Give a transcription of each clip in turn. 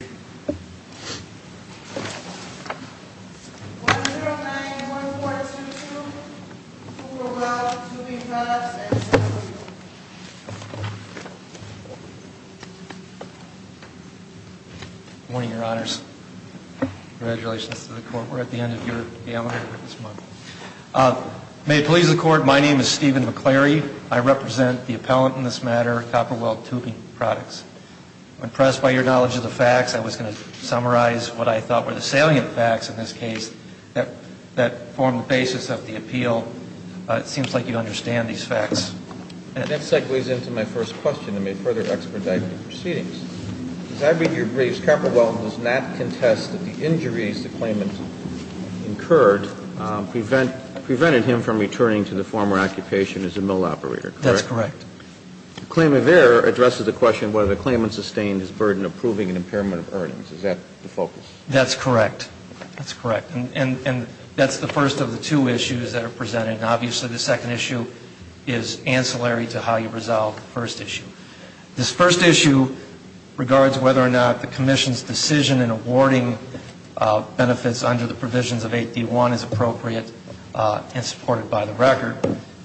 Good morning, Your Honors. Congratulations to the Court. We're at the end of your amendment this month. May it please the Court, my name is Stephen McClary. I represent the Workers' Compensation Commission, and I'm here today to ask you a question on the basis of the appeal. I'm going to summarize what I thought were the salient facts in this case, that form the basis of the appeal. It seems like you understand these facts. That segues into my first question, and may further expedite proceedings. As I read your briefs, Capilwell does not contest that the injuries the claimant incurred prevented him from returning to the former occupation as a mill operator. That's correct. The claim of error addresses the question whether the claimant sustained his burden of proving an impairment of earnings. Is that the focus? That's correct. That's correct. And that's the first of the two issues that are presented. And obviously the second issue is ancillary to how you resolve the first issue. This first issue regards whether or not the Commission's decision in awarding benefits under the provisions of 8D1 is appropriate and supported by the record.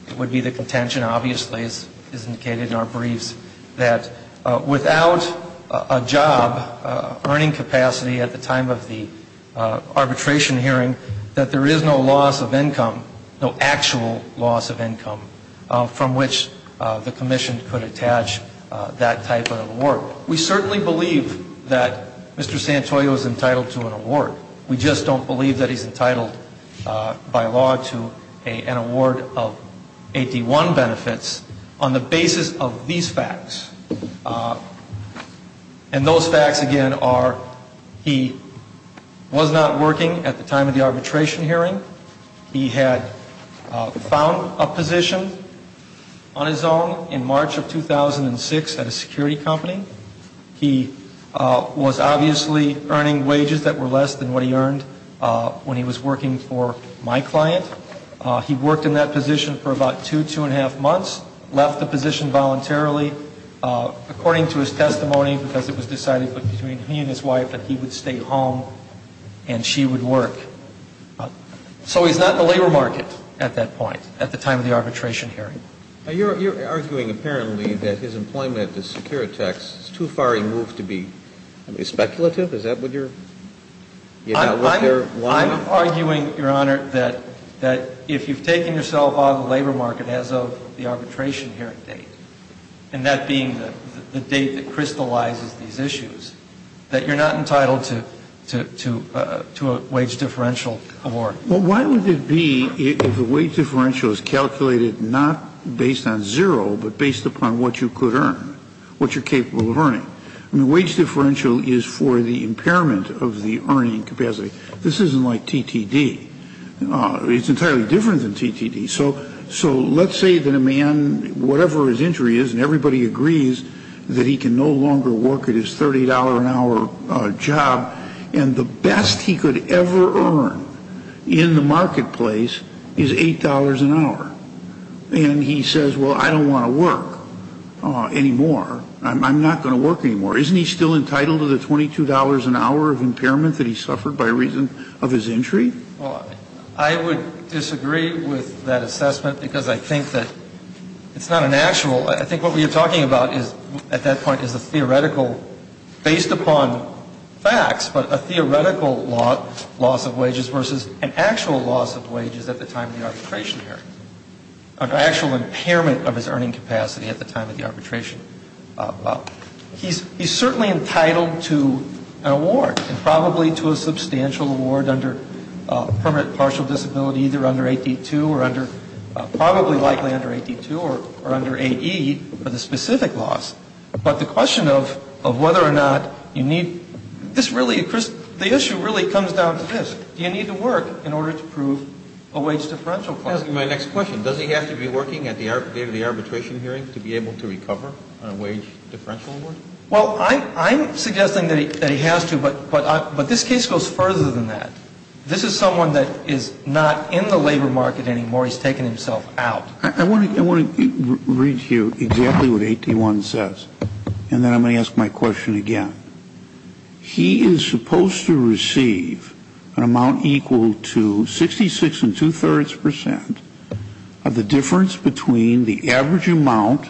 It would be the contention, obviously, as indicated in our briefs, that without a job, earning capacity at the time of the arbitration hearing, that there is no loss of income, no actual loss of income from which the Commission could attach that type of award. We certainly believe that Mr. Santoyo is entitled to an award. We just don't believe that he's entitled by law to an award of 8D1 benefits on the basis of these facts. And those facts, again, are he was not working at the time of the arbitration hearing. He had found a position on his own in March of 2006 at a security company. He was obviously earning wages that were less than what he earned when he was working for my client. He worked in that position for about two, two and a half months, left the position voluntarily, according to his testimony, because it was decided between me and his wife that he would stay home and she would work. So he's not in the labor market at that point, at the time of the arbitration hearing. You're arguing, apparently, that his employment at the Securitex is too far removed to be speculative? Is that what you're lying about? I'm arguing, Your Honor, that if you've taken yourself out of the labor market as of the arbitration hearing date, and that being the date that crystallizes these issues, that you're not entitled to a wage differential award. Well, why would it be if the wage differential is calculated not based on zero, but based upon what you could earn, what you're capable of earning? I mean, wage differential is for the impairment of the earning capacity. This isn't like TTD. It's entirely different than TTD. So let's say that a man, whatever his injury is, and everybody agrees that he can no longer work at his $30 an hour job, and the best he could ever earn in the marketplace is $8 an hour. And he says, well, I don't want to work anymore. I'm not going to work anymore. Isn't he still entitled to the $22 an hour of impairment that he suffered by reason of his injury? Well, I would disagree with that assessment because I think that it's not an actual I think what we are talking about at that point is a theoretical, based upon facts, but a theoretical loss of wages versus an actual loss of wages at the time of the arbitration hearing. An actual impairment of his earning capacity at the time of the arbitration. He's certainly entitled to an award, and probably to a substantial award under permanent partial disability either under 8D2 or under, probably likely under 8D2 or under 8E for the specific loss. But the question of whether or not you need, this really, Chris, the issue really comes down to this. Do you need to work in order to prove a wage differential clause? I'm asking my next question. Does he have to be working at the date of the arbitration hearing to be able to recover on a wage differential award? Well, I'm suggesting that he has to, but this case goes further than that. This is someone that is not in the labor market anymore. He's taken himself out. I want to read to you exactly what 8D1 says, and then I'm going to ask my question again. He is supposed to receive an amount equal to 66.2% of the difference between the average amount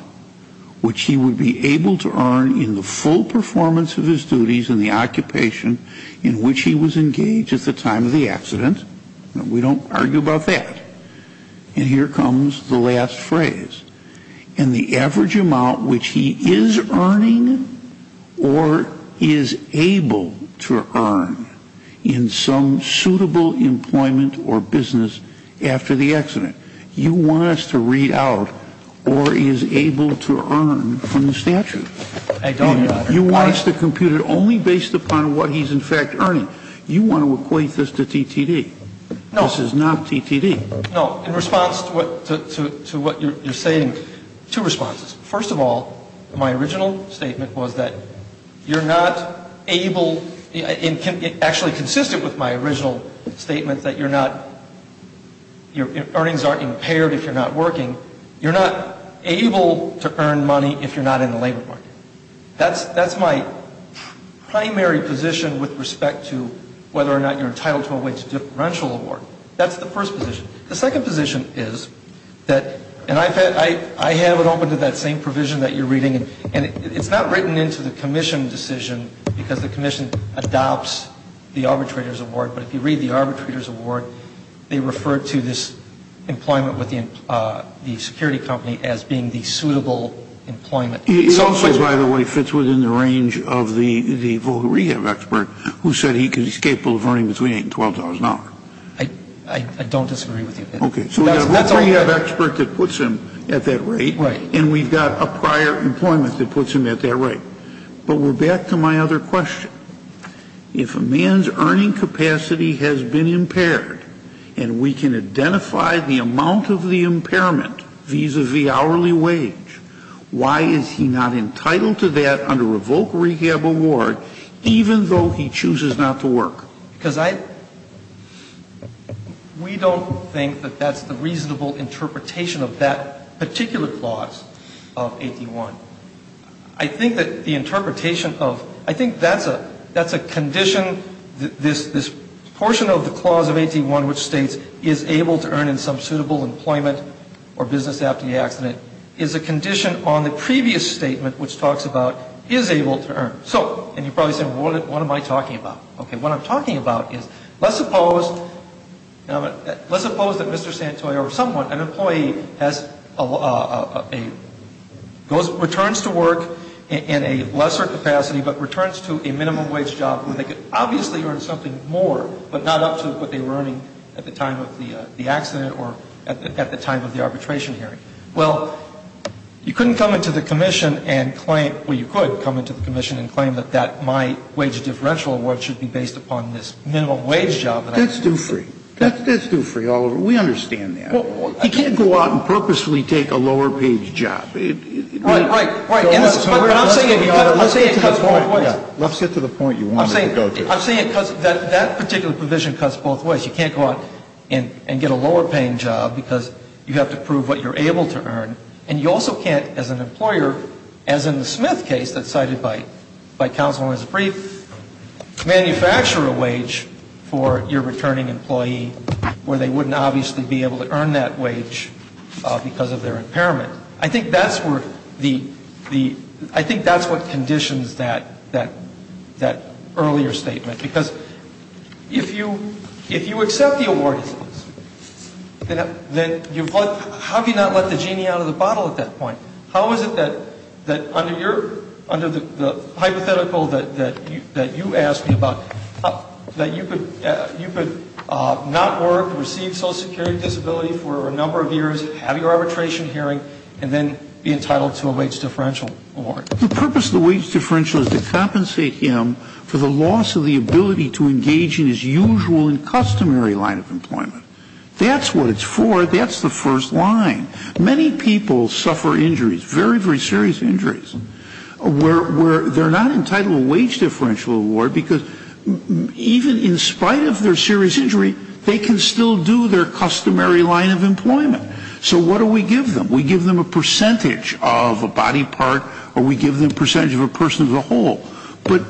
which he would be able to earn in the full performance of his duties in the occupation in which he was engaged at the time of the accident. We don't argue about that. And here comes the last phrase. And the average amount which he is earning or is able to earn in some suitable employment or business after the accident. You want us to read out or is able to earn from the statute. I don't, Your Honor. You want us to compute it only based upon what he's, in fact, earning. You want to equate this to TTD. No. This is not TTD. No. In response to what you're saying, two responses. First of all, my original statement was that you're not able, actually consistent with my original statement, that you're not, your earnings aren't impaired if you're not working. You're not able to earn money if you're not in the labor market. That's my primary position with respect to whether or not you're entitled to a wage differential award. That's the first position. The second position is that, and I have it open to that same provision that you're reading. And it's not written into the commission decision because the commission adopts the arbitrator's award. But if you read the arbitrator's award, they refer to this employment with the security company as being the suitable employment. It's also, by the way, fits within the range of the voc rehab expert who said he's capable of earning between $8 and $12 an hour. I don't disagree with you. Okay. So we have a voc rehab expert that puts him at that rate. Right. And we've got a prior employment that puts him at that rate. But we're back to my other question. If a man's earning capacity has been impaired and we can identify the amount of the impairment vis-à-vis hourly wage, why is he not entitled to that under a voc rehab award even though he chooses not to work? Because I we don't think that that's the reasonable interpretation of that particular clause of 81. I think that the interpretation of ‑‑ I think that's a condition, this portion of the clause of 81 which states is able to earn in some suitable employment or business after the accident is a condition on the previous statement, which talks about is able to earn. So, and you're probably saying, well, what am I talking about? Okay. What I'm talking about is let's suppose that Mr. Santoy or someone, an employee, has a ‑‑ returns to work in a lesser capacity but returns to a minimum wage job where they could obviously earn something more but not up to what they were earning at the time of the accident or at the time of the arbitration hearing. Well, you couldn't come into the commission and claim ‑‑ That's due free. That's due free, Oliver. We understand that. You can't go out and purposefully take a lower paid job. Right, right, right. And I'm saying it cuts both ways. Let's get to the point you wanted to go to. I'm saying it cuts ‑‑ that particular provision cuts both ways. You can't go out and get a lower paying job because you have to prove what you're able to earn. And you also can't, as an employer, as in the Smith case that's cited by counsel in his brief, manufacture a wage for your returning employee where they wouldn't obviously be able to earn that wage because of their impairment. I think that's where the ‑‑ I think that's what conditions that earlier statement. Because if you accept the award, then you've let ‑‑ how can you not let the genie out of the bottle at that point? How is it that under your ‑‑ under the hypothetical that you asked me about, that you could not work, receive social security disability for a number of years, have your arbitration hearing, and then be entitled to a wage differential award? The purpose of the wage differential is to compensate him for the loss of the ability to engage in his usual and customary line of employment. That's what it's for. That's the first line. Many people suffer injuries, very, very serious injuries, where they're not entitled to a wage differential award because even in spite of their serious injury, they can still do their customary line of employment. So what do we give them? We give them a percentage of a body part or we give them a percentage of a person as a whole. But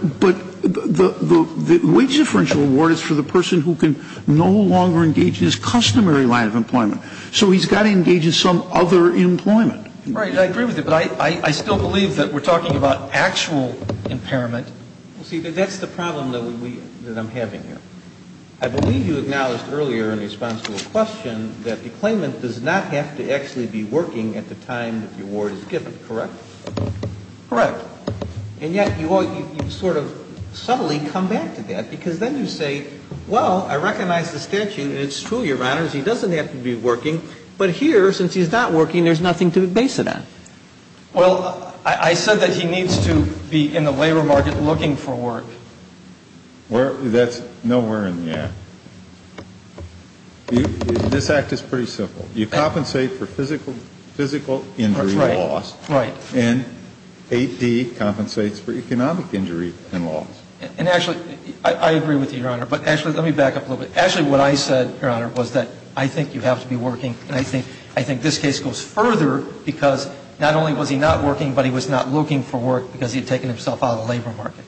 the wage differential award is for the person who can no longer engage in his customary line of employment. So he's got to engage in some other employment. Right. I agree with you. But I still believe that we're talking about actual impairment. Well, see, that's the problem that we ‑‑ that I'm having here. I believe you acknowledged earlier in response to a question that the claimant does not have to actually be working at the time that the award is given, correct? Correct. And yet you sort of subtly come back to that because then you say, well, I recognize the statute, and it's true, Your Honors, he doesn't have to be working. But here, since he's not working, there's nothing to base it on. Well, I said that he needs to be in the labor market looking for work. That's nowhere in the act. This act is pretty simple. You compensate for physical injury loss. That's right. Right. And 8D compensates for economic injury and loss. And actually, I agree with you, Your Honor. But actually, let me back up a little bit. Actually, what I said, Your Honor, was that I think you have to be working. And I think this case goes further because not only was he not working, but he was not looking for work because he had taken himself out of the labor market.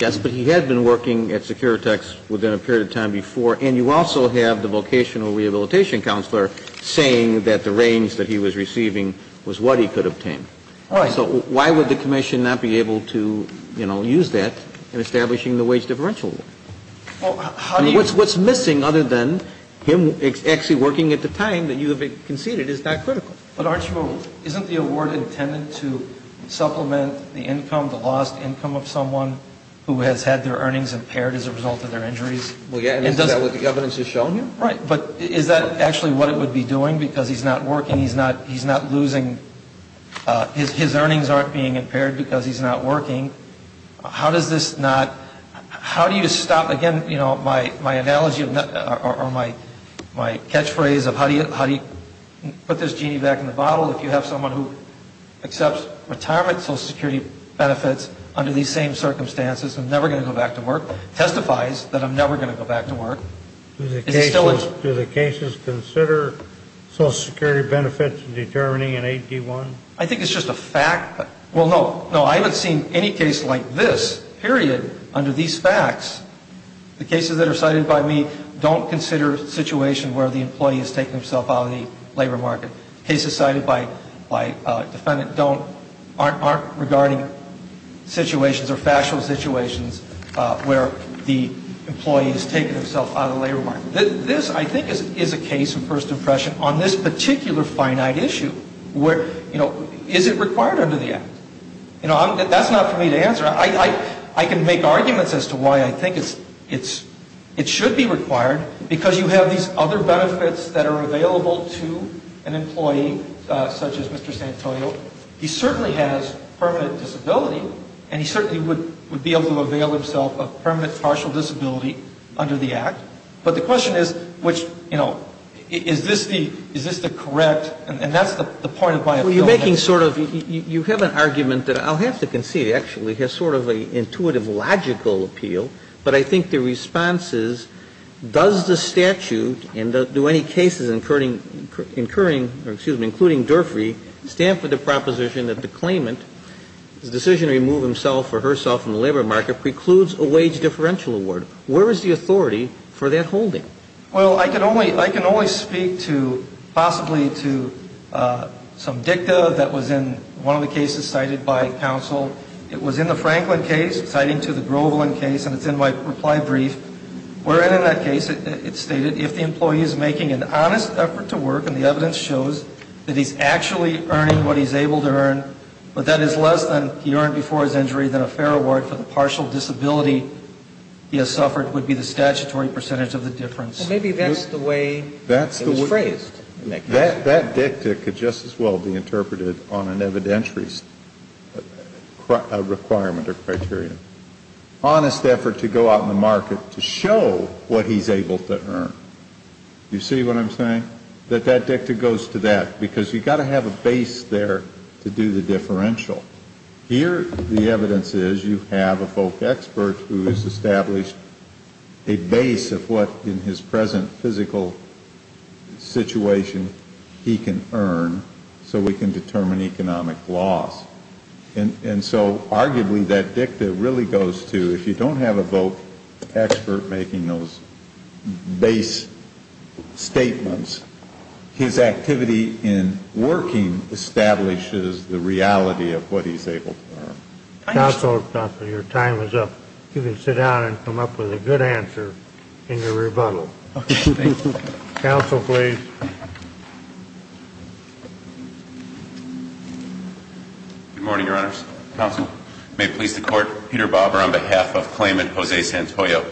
Yes, but he had been working at Securitex within a period of time before. And you also have the vocational rehabilitation counselor saying that the range that he was receiving was what he could obtain. All right. So why would the commission not be able to, you know, use that in establishing the wage differential award? I mean, what's missing other than him actually working at the time that you have conceded is not critical. But, Archibald, isn't the award intended to supplement the income, the lost income, of someone who has had their earnings impaired as a result of their injuries? Well, yes. Isn't that what the evidence is showing you? Right. But is that actually what it would be doing because he's not working? He's not losing. His earnings aren't being impaired because he's not working. How does this not, how do you stop, again, you know, my analogy or my catchphrase of how do you put this genie back in the bottle if you have someone who accepts retirement Social Security benefits under these same circumstances and is never going to go back to work, testifies that I'm never going to go back to work. Do the cases consider Social Security benefits determining an 8D1? I think it's just a fact. Well, no. No, I haven't seen any case like this, period, under these facts. The cases that are cited by me don't consider a situation where the employee has taken himself out of the labor market. Cases cited by a defendant aren't regarding situations or factual situations where the employee has taken himself out of the labor market. This, I think, is a case of first impression on this particular finite issue. Is it required under the Act? That's not for me to answer. I can make arguments as to why I think it should be required because you have these other benefits that are available to an employee such as Mr. Santoyo. He certainly has permanent disability, and he certainly would be able to avail himself of permanent partial disability under the Act. But the question is, which, you know, is this the correct? And that's the point of my appeal. Well, you're making sort of you have an argument that I'll have to concede actually has sort of an intuitive, logical appeal. But I think the response is, does the statute and do any cases incurring or, excuse me, including Durfrey stand for the proposition that the claimant, his decision to remove himself or herself from the labor market precludes a wage differential award? Where is the authority for that holding? Well, I can only speak to possibly to some dicta that was in one of the cases cited by counsel. It was in the Franklin case, citing to the Groveland case, and it's in my reply brief, wherein in that case it stated if the employee is making an honest effort to work and the evidence shows that he's actually earning what he's able to earn, but that is less than he earned before his injury than a fair award for the partial disability he has suffered would be the statutory percentage of the difference. Well, maybe that's the way it was phrased. That dicta could just as well be interpreted on an evidentiary requirement or criteria. Honest effort to go out in the market to show what he's able to earn. You see what I'm saying? That that dicta goes to that, because you've got to have a base there to do the differential. Here the evidence is you have a folk expert who has established a base of what, in his present physical situation, he can earn so we can determine economic loss. And so arguably that dicta really goes to if you don't have a folk expert making those base statements, his activity in working establishes the reality of what he's able to earn. Counsel, your time is up. You can sit down and come up with a good answer in your rebuttal. Okay, thank you. Counsel, please. Good morning, Your Honors. Counsel. May it please the Court. Peter Bobber on behalf of claimant Jose Santoyo.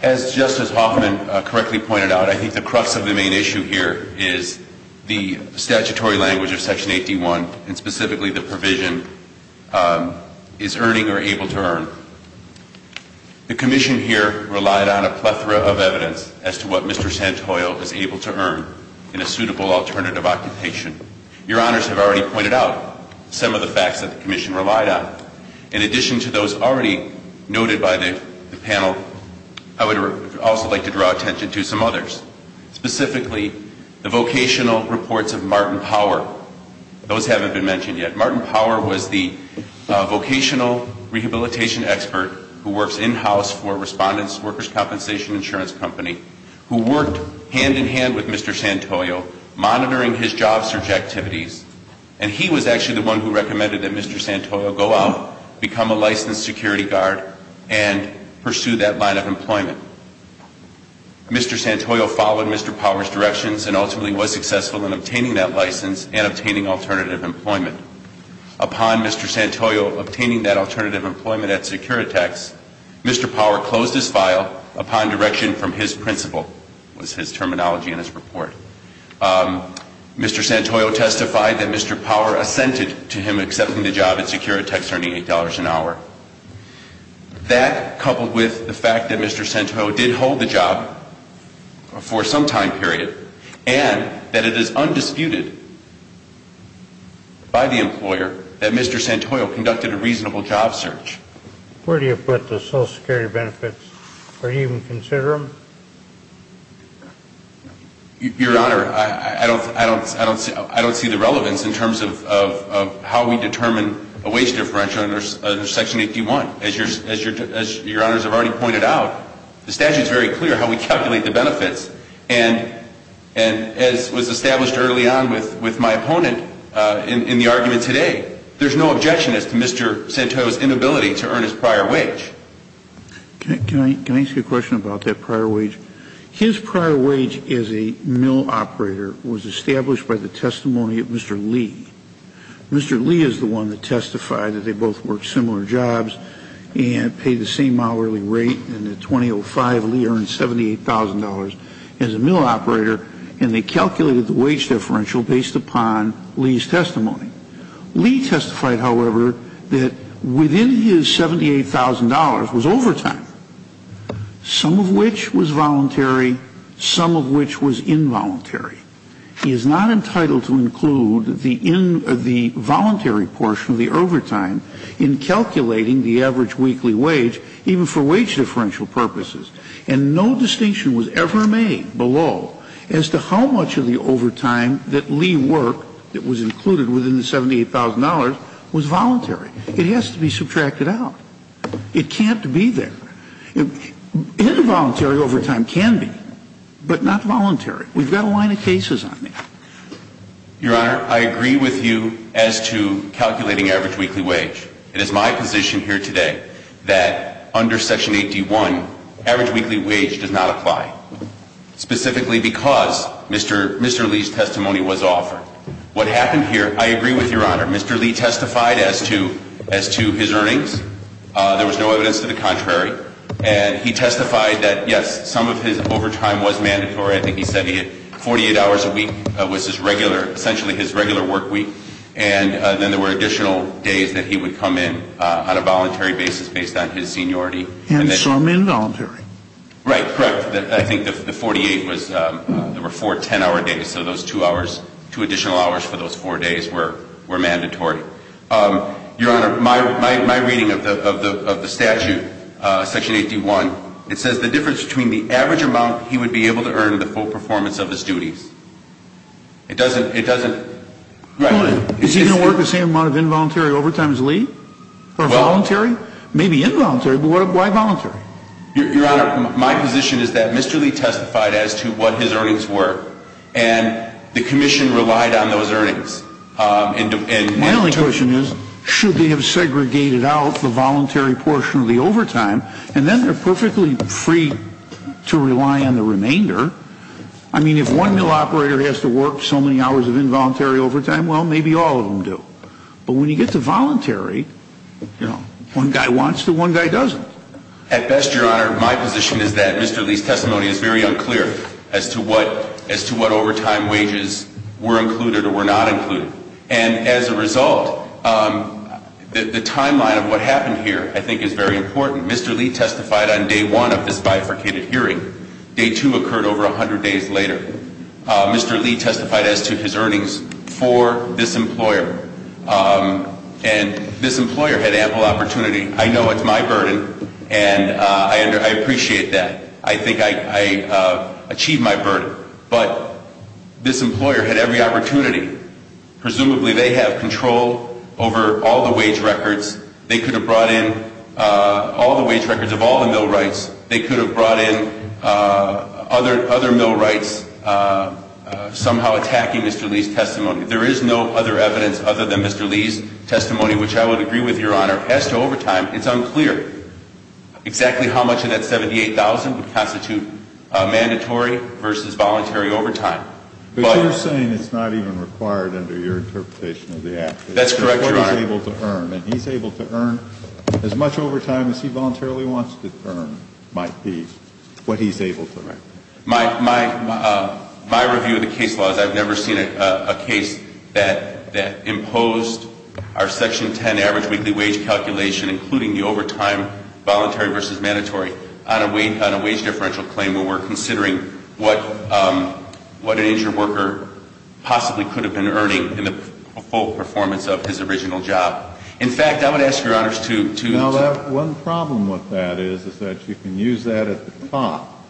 As Justice Hoffman correctly pointed out, I think the crux of the main issue here is the statutory language of Section 8D1 and specifically the provision is earning or able to earn. The Commission here relied on a plethora of evidence as to what Mr. Santoyo is able to earn in a suitable alternative occupation. Your Honors have already pointed out some of the facts that the Commission relied on. In addition to those already noted by the panel, I would also like to draw attention to some others. Specifically, the vocational reports of Martin Power. Those haven't been mentioned yet. Martin Power was the vocational rehabilitation expert who works in-house for Respondent's Workers' Compensation Insurance Company who worked hand-in-hand with Mr. Santoyo monitoring his job search activities. And he was actually the one who recommended that Mr. Santoyo go out, become a licensed security guard, and pursue that line of employment. Mr. Santoyo followed Mr. Power's directions and ultimately was successful in obtaining that license and obtaining alternative employment. Upon Mr. Santoyo obtaining that alternative employment at Securitex, Mr. Power closed his file upon direction from his principal, was his terminology in his report. Mr. Santoyo testified that Mr. Power assented to him accepting the job at Securitex earning $8 an hour. That, coupled with the fact that Mr. Santoyo did hold the job for some time period, and that it is undisputed by the employer that Mr. Santoyo conducted a reasonable job search. Where do you put the Social Security benefits? Or do you even consider them? Your Honor, I don't see the relevance in terms of how we determine a wage differential under Section 81. As Your Honors have already pointed out, the statute is very clear how we calculate the benefits. And as was established early on with my opponent in the argument today, there's no objection as to Mr. Santoyo's inability to earn his prior wage. Can I ask you a question about that prior wage? His prior wage as a mill operator was established by the testimony of Mr. Lee. Mr. Lee is the one that testified that they both worked similar jobs and paid the same hourly rate. And in 2005, Lee earned $78,000 as a mill operator. And they calculated the wage differential based upon Lee's testimony. Lee testified, however, that within his $78,000 was overtime, some of which was voluntary, some of which was involuntary. He is not entitled to include the voluntary portion of the overtime in calculating the average weekly wage, even for wage differential purposes. And no distinction was ever made below as to how much of the overtime that Lee worked that was included within the $78,000 was voluntary. It has to be subtracted out. It can't be there. Involuntary overtime can be, but not voluntary. We've got a line of cases on it. Your Honor, I agree with you as to calculating average weekly wage. It is my position here today that under Section 81, average weekly wage does not apply, specifically because Mr. Lee's testimony was offered. What happened here, I agree with Your Honor. Mr. Lee testified as to his earnings. There was no evidence to the contrary. And he testified that, yes, some of his overtime was mandatory. I think he said he had 48 hours a week was his regular, essentially his regular work week. And then there were additional days that he would come in on a voluntary basis based on his seniority. And some involuntary. Right, correct. I think the 48 was, there were four 10-hour days, so those two additional hours for those four days were mandatory. Your Honor, my reading of the statute, Section 81, it says the difference between the average amount he would be able to earn and the full performance of his duties. It doesn't, it doesn't. Is he going to work the same amount of involuntary overtime as Lee? Or voluntary? Maybe involuntary, but why voluntary? Your Honor, my position is that Mr. Lee testified as to what his earnings were. And the Commission relied on those earnings. My only question is, should they have segregated out the voluntary portion of the overtime, and then they're perfectly free to rely on the remainder. I mean, if one mill operator has to work so many hours of involuntary overtime, well, maybe all of them do. But when you get to voluntary, you know, one guy wants to, one guy doesn't. At best, Your Honor, my position is that Mr. Lee's testimony is very unclear as to what overtime wages were included or were not included. And as a result, the timeline of what happened here I think is very important. Mr. Lee testified on day one of this bifurcated hearing. Day two occurred over 100 days later. Mr. Lee testified as to his earnings for this employer. And this employer had ample opportunity. I know it's my burden, and I appreciate that. I think I achieved my burden. But this employer had every opportunity. Presumably, they have control over all the wage records. They could have brought in all the wage records of all the millwrights. They could have brought in other millwrights somehow attacking Mr. Lee's testimony. There is no other evidence other than Mr. Lee's testimony, which I would agree with, Your Honor, as to overtime. It's unclear exactly how much of that $78,000 would constitute mandatory versus voluntary overtime. But you're saying it's not even required under your interpretation of the act. That's correct, Your Honor. And he's able to earn as much overtime as he voluntarily wants to earn might be what he's able to earn. My review of the case law is I've never seen a case that imposed our Section 10 average weekly wage calculation, including the overtime, voluntary versus mandatory, on a wage differential claim where we're considering what an injured worker possibly could have been earning in the full performance of his original job. In fact, I would ask, Your Honors, to— Now, one problem with that is that you can use that at the top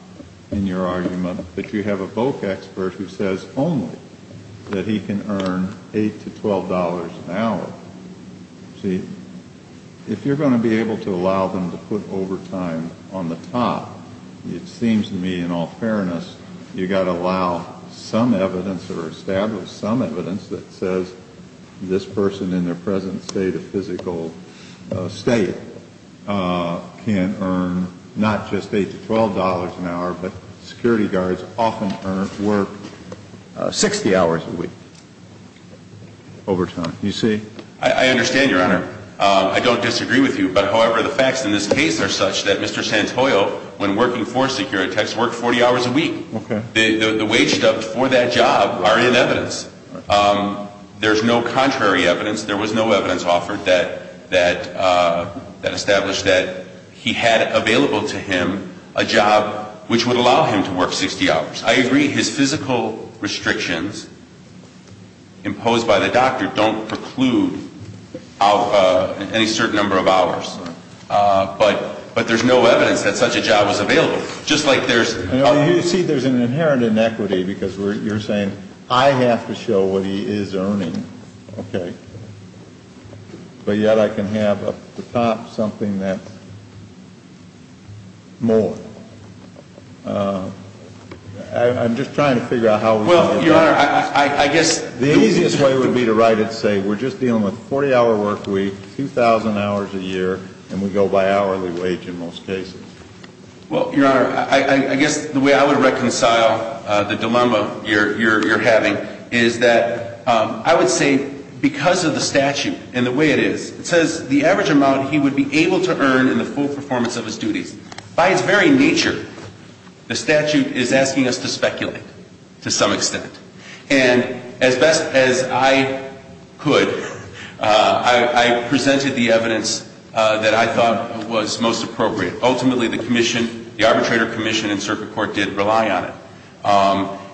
in your argument. But you have a VOC expert who says only that he can earn $8 to $12 an hour. See, if you're going to be able to allow them to put overtime on the top, it seems to me, in all fairness, you've got to allow some evidence or establish some evidence that says this person in their present state of physical state can earn not just $8 to $12 an hour, but security guards often earn work 60 hours a week overtime. You see? I understand, Your Honor. I don't disagree with you. But, however, the facts in this case are such that Mr. Santoyo, when working for security techs, worked 40 hours a week. Okay. The wage stubbed for that job are in evidence. There's no contrary evidence. There was no evidence offered that established that he had available to him a job which would allow him to work 60 hours. I agree. His physical restrictions imposed by the doctor don't preclude any certain number of hours. But there's no evidence that such a job was available. Just like there's – You see, there's an inherent inequity because you're saying I have to show what he is earning. Okay. But yet I can have at the top something that's more. I'm just trying to figure out how we're going to do this. Well, Your Honor, I guess – The easiest way would be to write it and say we're just dealing with 40-hour work week, 2,000 hours a year, and we go by hourly wage in most cases. Well, Your Honor, I guess the way I would reconcile the dilemma you're having is that I would say because of the statute and the way it is, it says the average amount he would be able to earn in the full performance of his duties. By its very nature, the statute is asking us to speculate to some extent. And as best as I could, I presented the evidence that I thought was most appropriate. Ultimately, the arbitrator commission and circuit court did rely on it.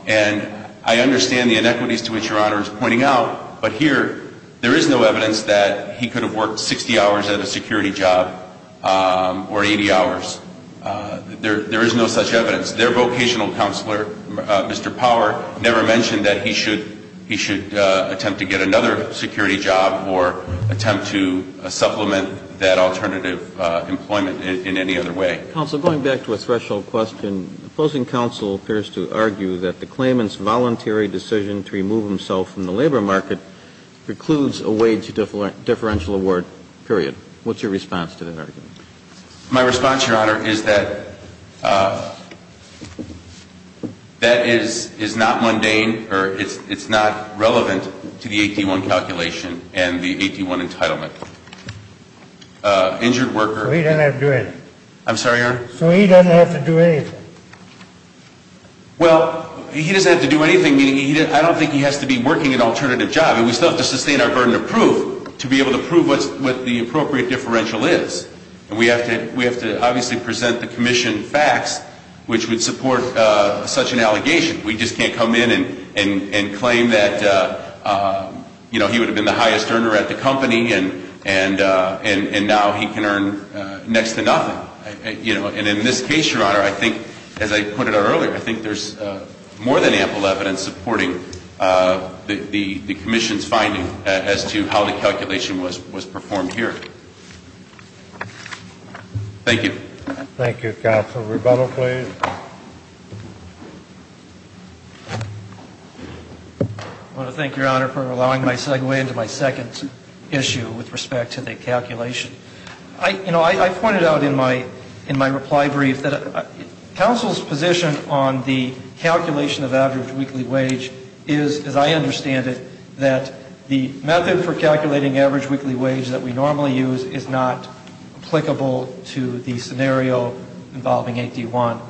And I understand the inequities to which Your Honor is pointing out, but here there is no evidence that he could have worked 60 hours at a security job or 80 hours. There is no such evidence. Their vocational counselor, Mr. Power, never mentioned that he should attempt to get another security job or attempt to supplement that alternative employment in any other way. Counsel, going back to a threshold question, opposing counsel appears to argue that the claimant's voluntary decision to remove himself from the labor market precludes a wage differential award, period. What's your response to that argument? My response, Your Honor, is that that is not mundane or it's not relevant to the 81 calculation and the 81 entitlement. Injured worker. So he doesn't have to do anything? I'm sorry, Your Honor? So he doesn't have to do anything? Well, he doesn't have to do anything, meaning I don't think he has to be working an alternative job. We still have to sustain our burden of proof to be able to prove what the appropriate differential is. And we have to obviously present the commission facts, which would support such an allegation. We just can't come in and claim that he would have been the highest earner at the company and now he can earn next to nothing. And in this case, Your Honor, I think, as I pointed out earlier, I think there's more than ample evidence supporting the commission's finding as to how the calculation was performed here. Thank you. Thank you. Counsel Rebello, please. I want to thank Your Honor for allowing my segue into my second issue with respect to the calculation. You know, I pointed out in my reply brief that counsel's position on the calculation of average weekly wage is, as I understand it, that the method for calculating average weekly wage that we normally use is not applicable to the scenario involving 8D1.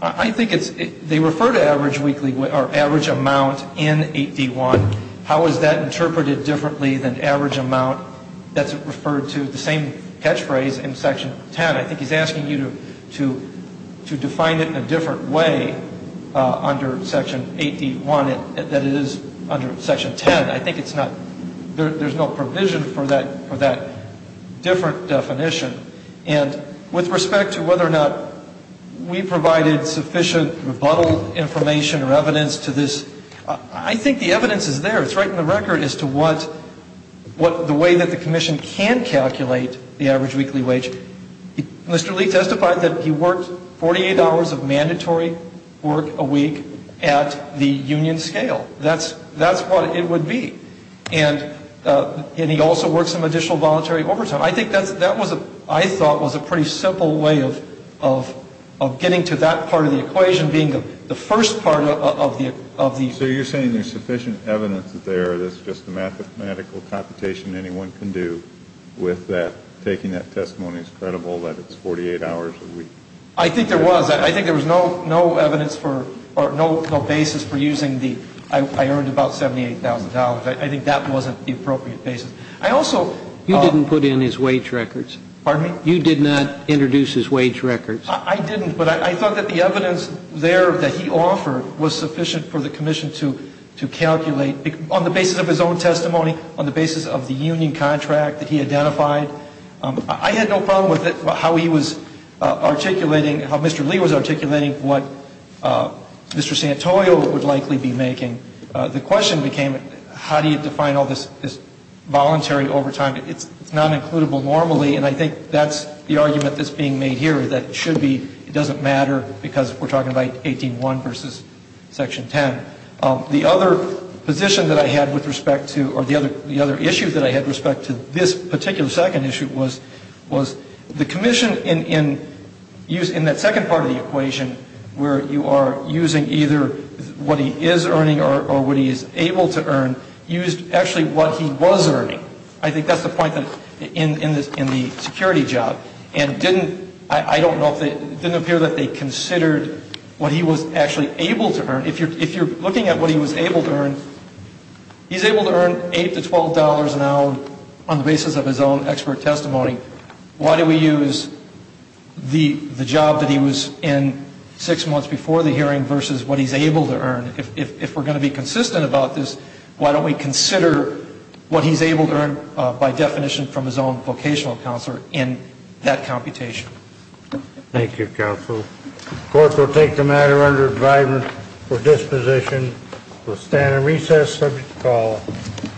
I think they refer to average amount in 8D1. How is that interpreted differently than average amount? That's referred to the same catchphrase in Section 10. I think he's asking you to define it in a different way under Section 8D1 than it is under Section 10. I think it's not – there's no provision for that different definition. And with respect to whether or not we provided sufficient rebuttal information or evidence to this, I think the evidence is there. It's right on the record as to what the way that the commission can calculate the average weekly wage. Mr. Lee testified that he worked $48 of mandatory work a week at the union scale. That's what it would be. And he also worked some additional voluntary overtime. I think that was a – I thought was a pretty simple way of getting to that part of the equation being the first part of the – So you're saying there's sufficient evidence there that's just a mathematical computation anyone can do with that, taking that testimony as credible that it's 48 hours a week? I think there was. I think there was no evidence for – or no basis for using the I earned about $78,000. I think that wasn't the appropriate basis. I also – You didn't put in his wage records. Pardon me? You did not introduce his wage records. I didn't. But I thought that the evidence there that he offered was sufficient for the commission to calculate on the basis of his own testimony, on the basis of the union contract that he identified. I had no problem with it, how he was articulating – how Mr. Lee was articulating what Mr. Santoyo would likely be making. The question became how do you define all this voluntary overtime? It's not includable normally, and I think that's the argument that's being made here, that it should be – it doesn't matter because we're talking about 18-1 versus Section 10. The other position that I had with respect to – or the other issue that I had with respect to this particular second issue was the commission in that second part of the equation where you are using either what he is earning or what he is able to earn, used actually what he was earning. I think that's the point in the security job. And didn't – I don't know if – it didn't appear that they considered what he was actually able to earn. If you're looking at what he was able to earn, he's able to earn $8 to $12 an hour on the basis of his own expert testimony. Why do we use the job that he was in six months before the hearing versus what he's able to earn? If we're going to be consistent about this, why don't we consider what he's able to earn by definition from his own vocational counselor in that computation? Thank you, counsel. The court will take the matter under advisement for disposition. We'll stand and recess. Subject to call.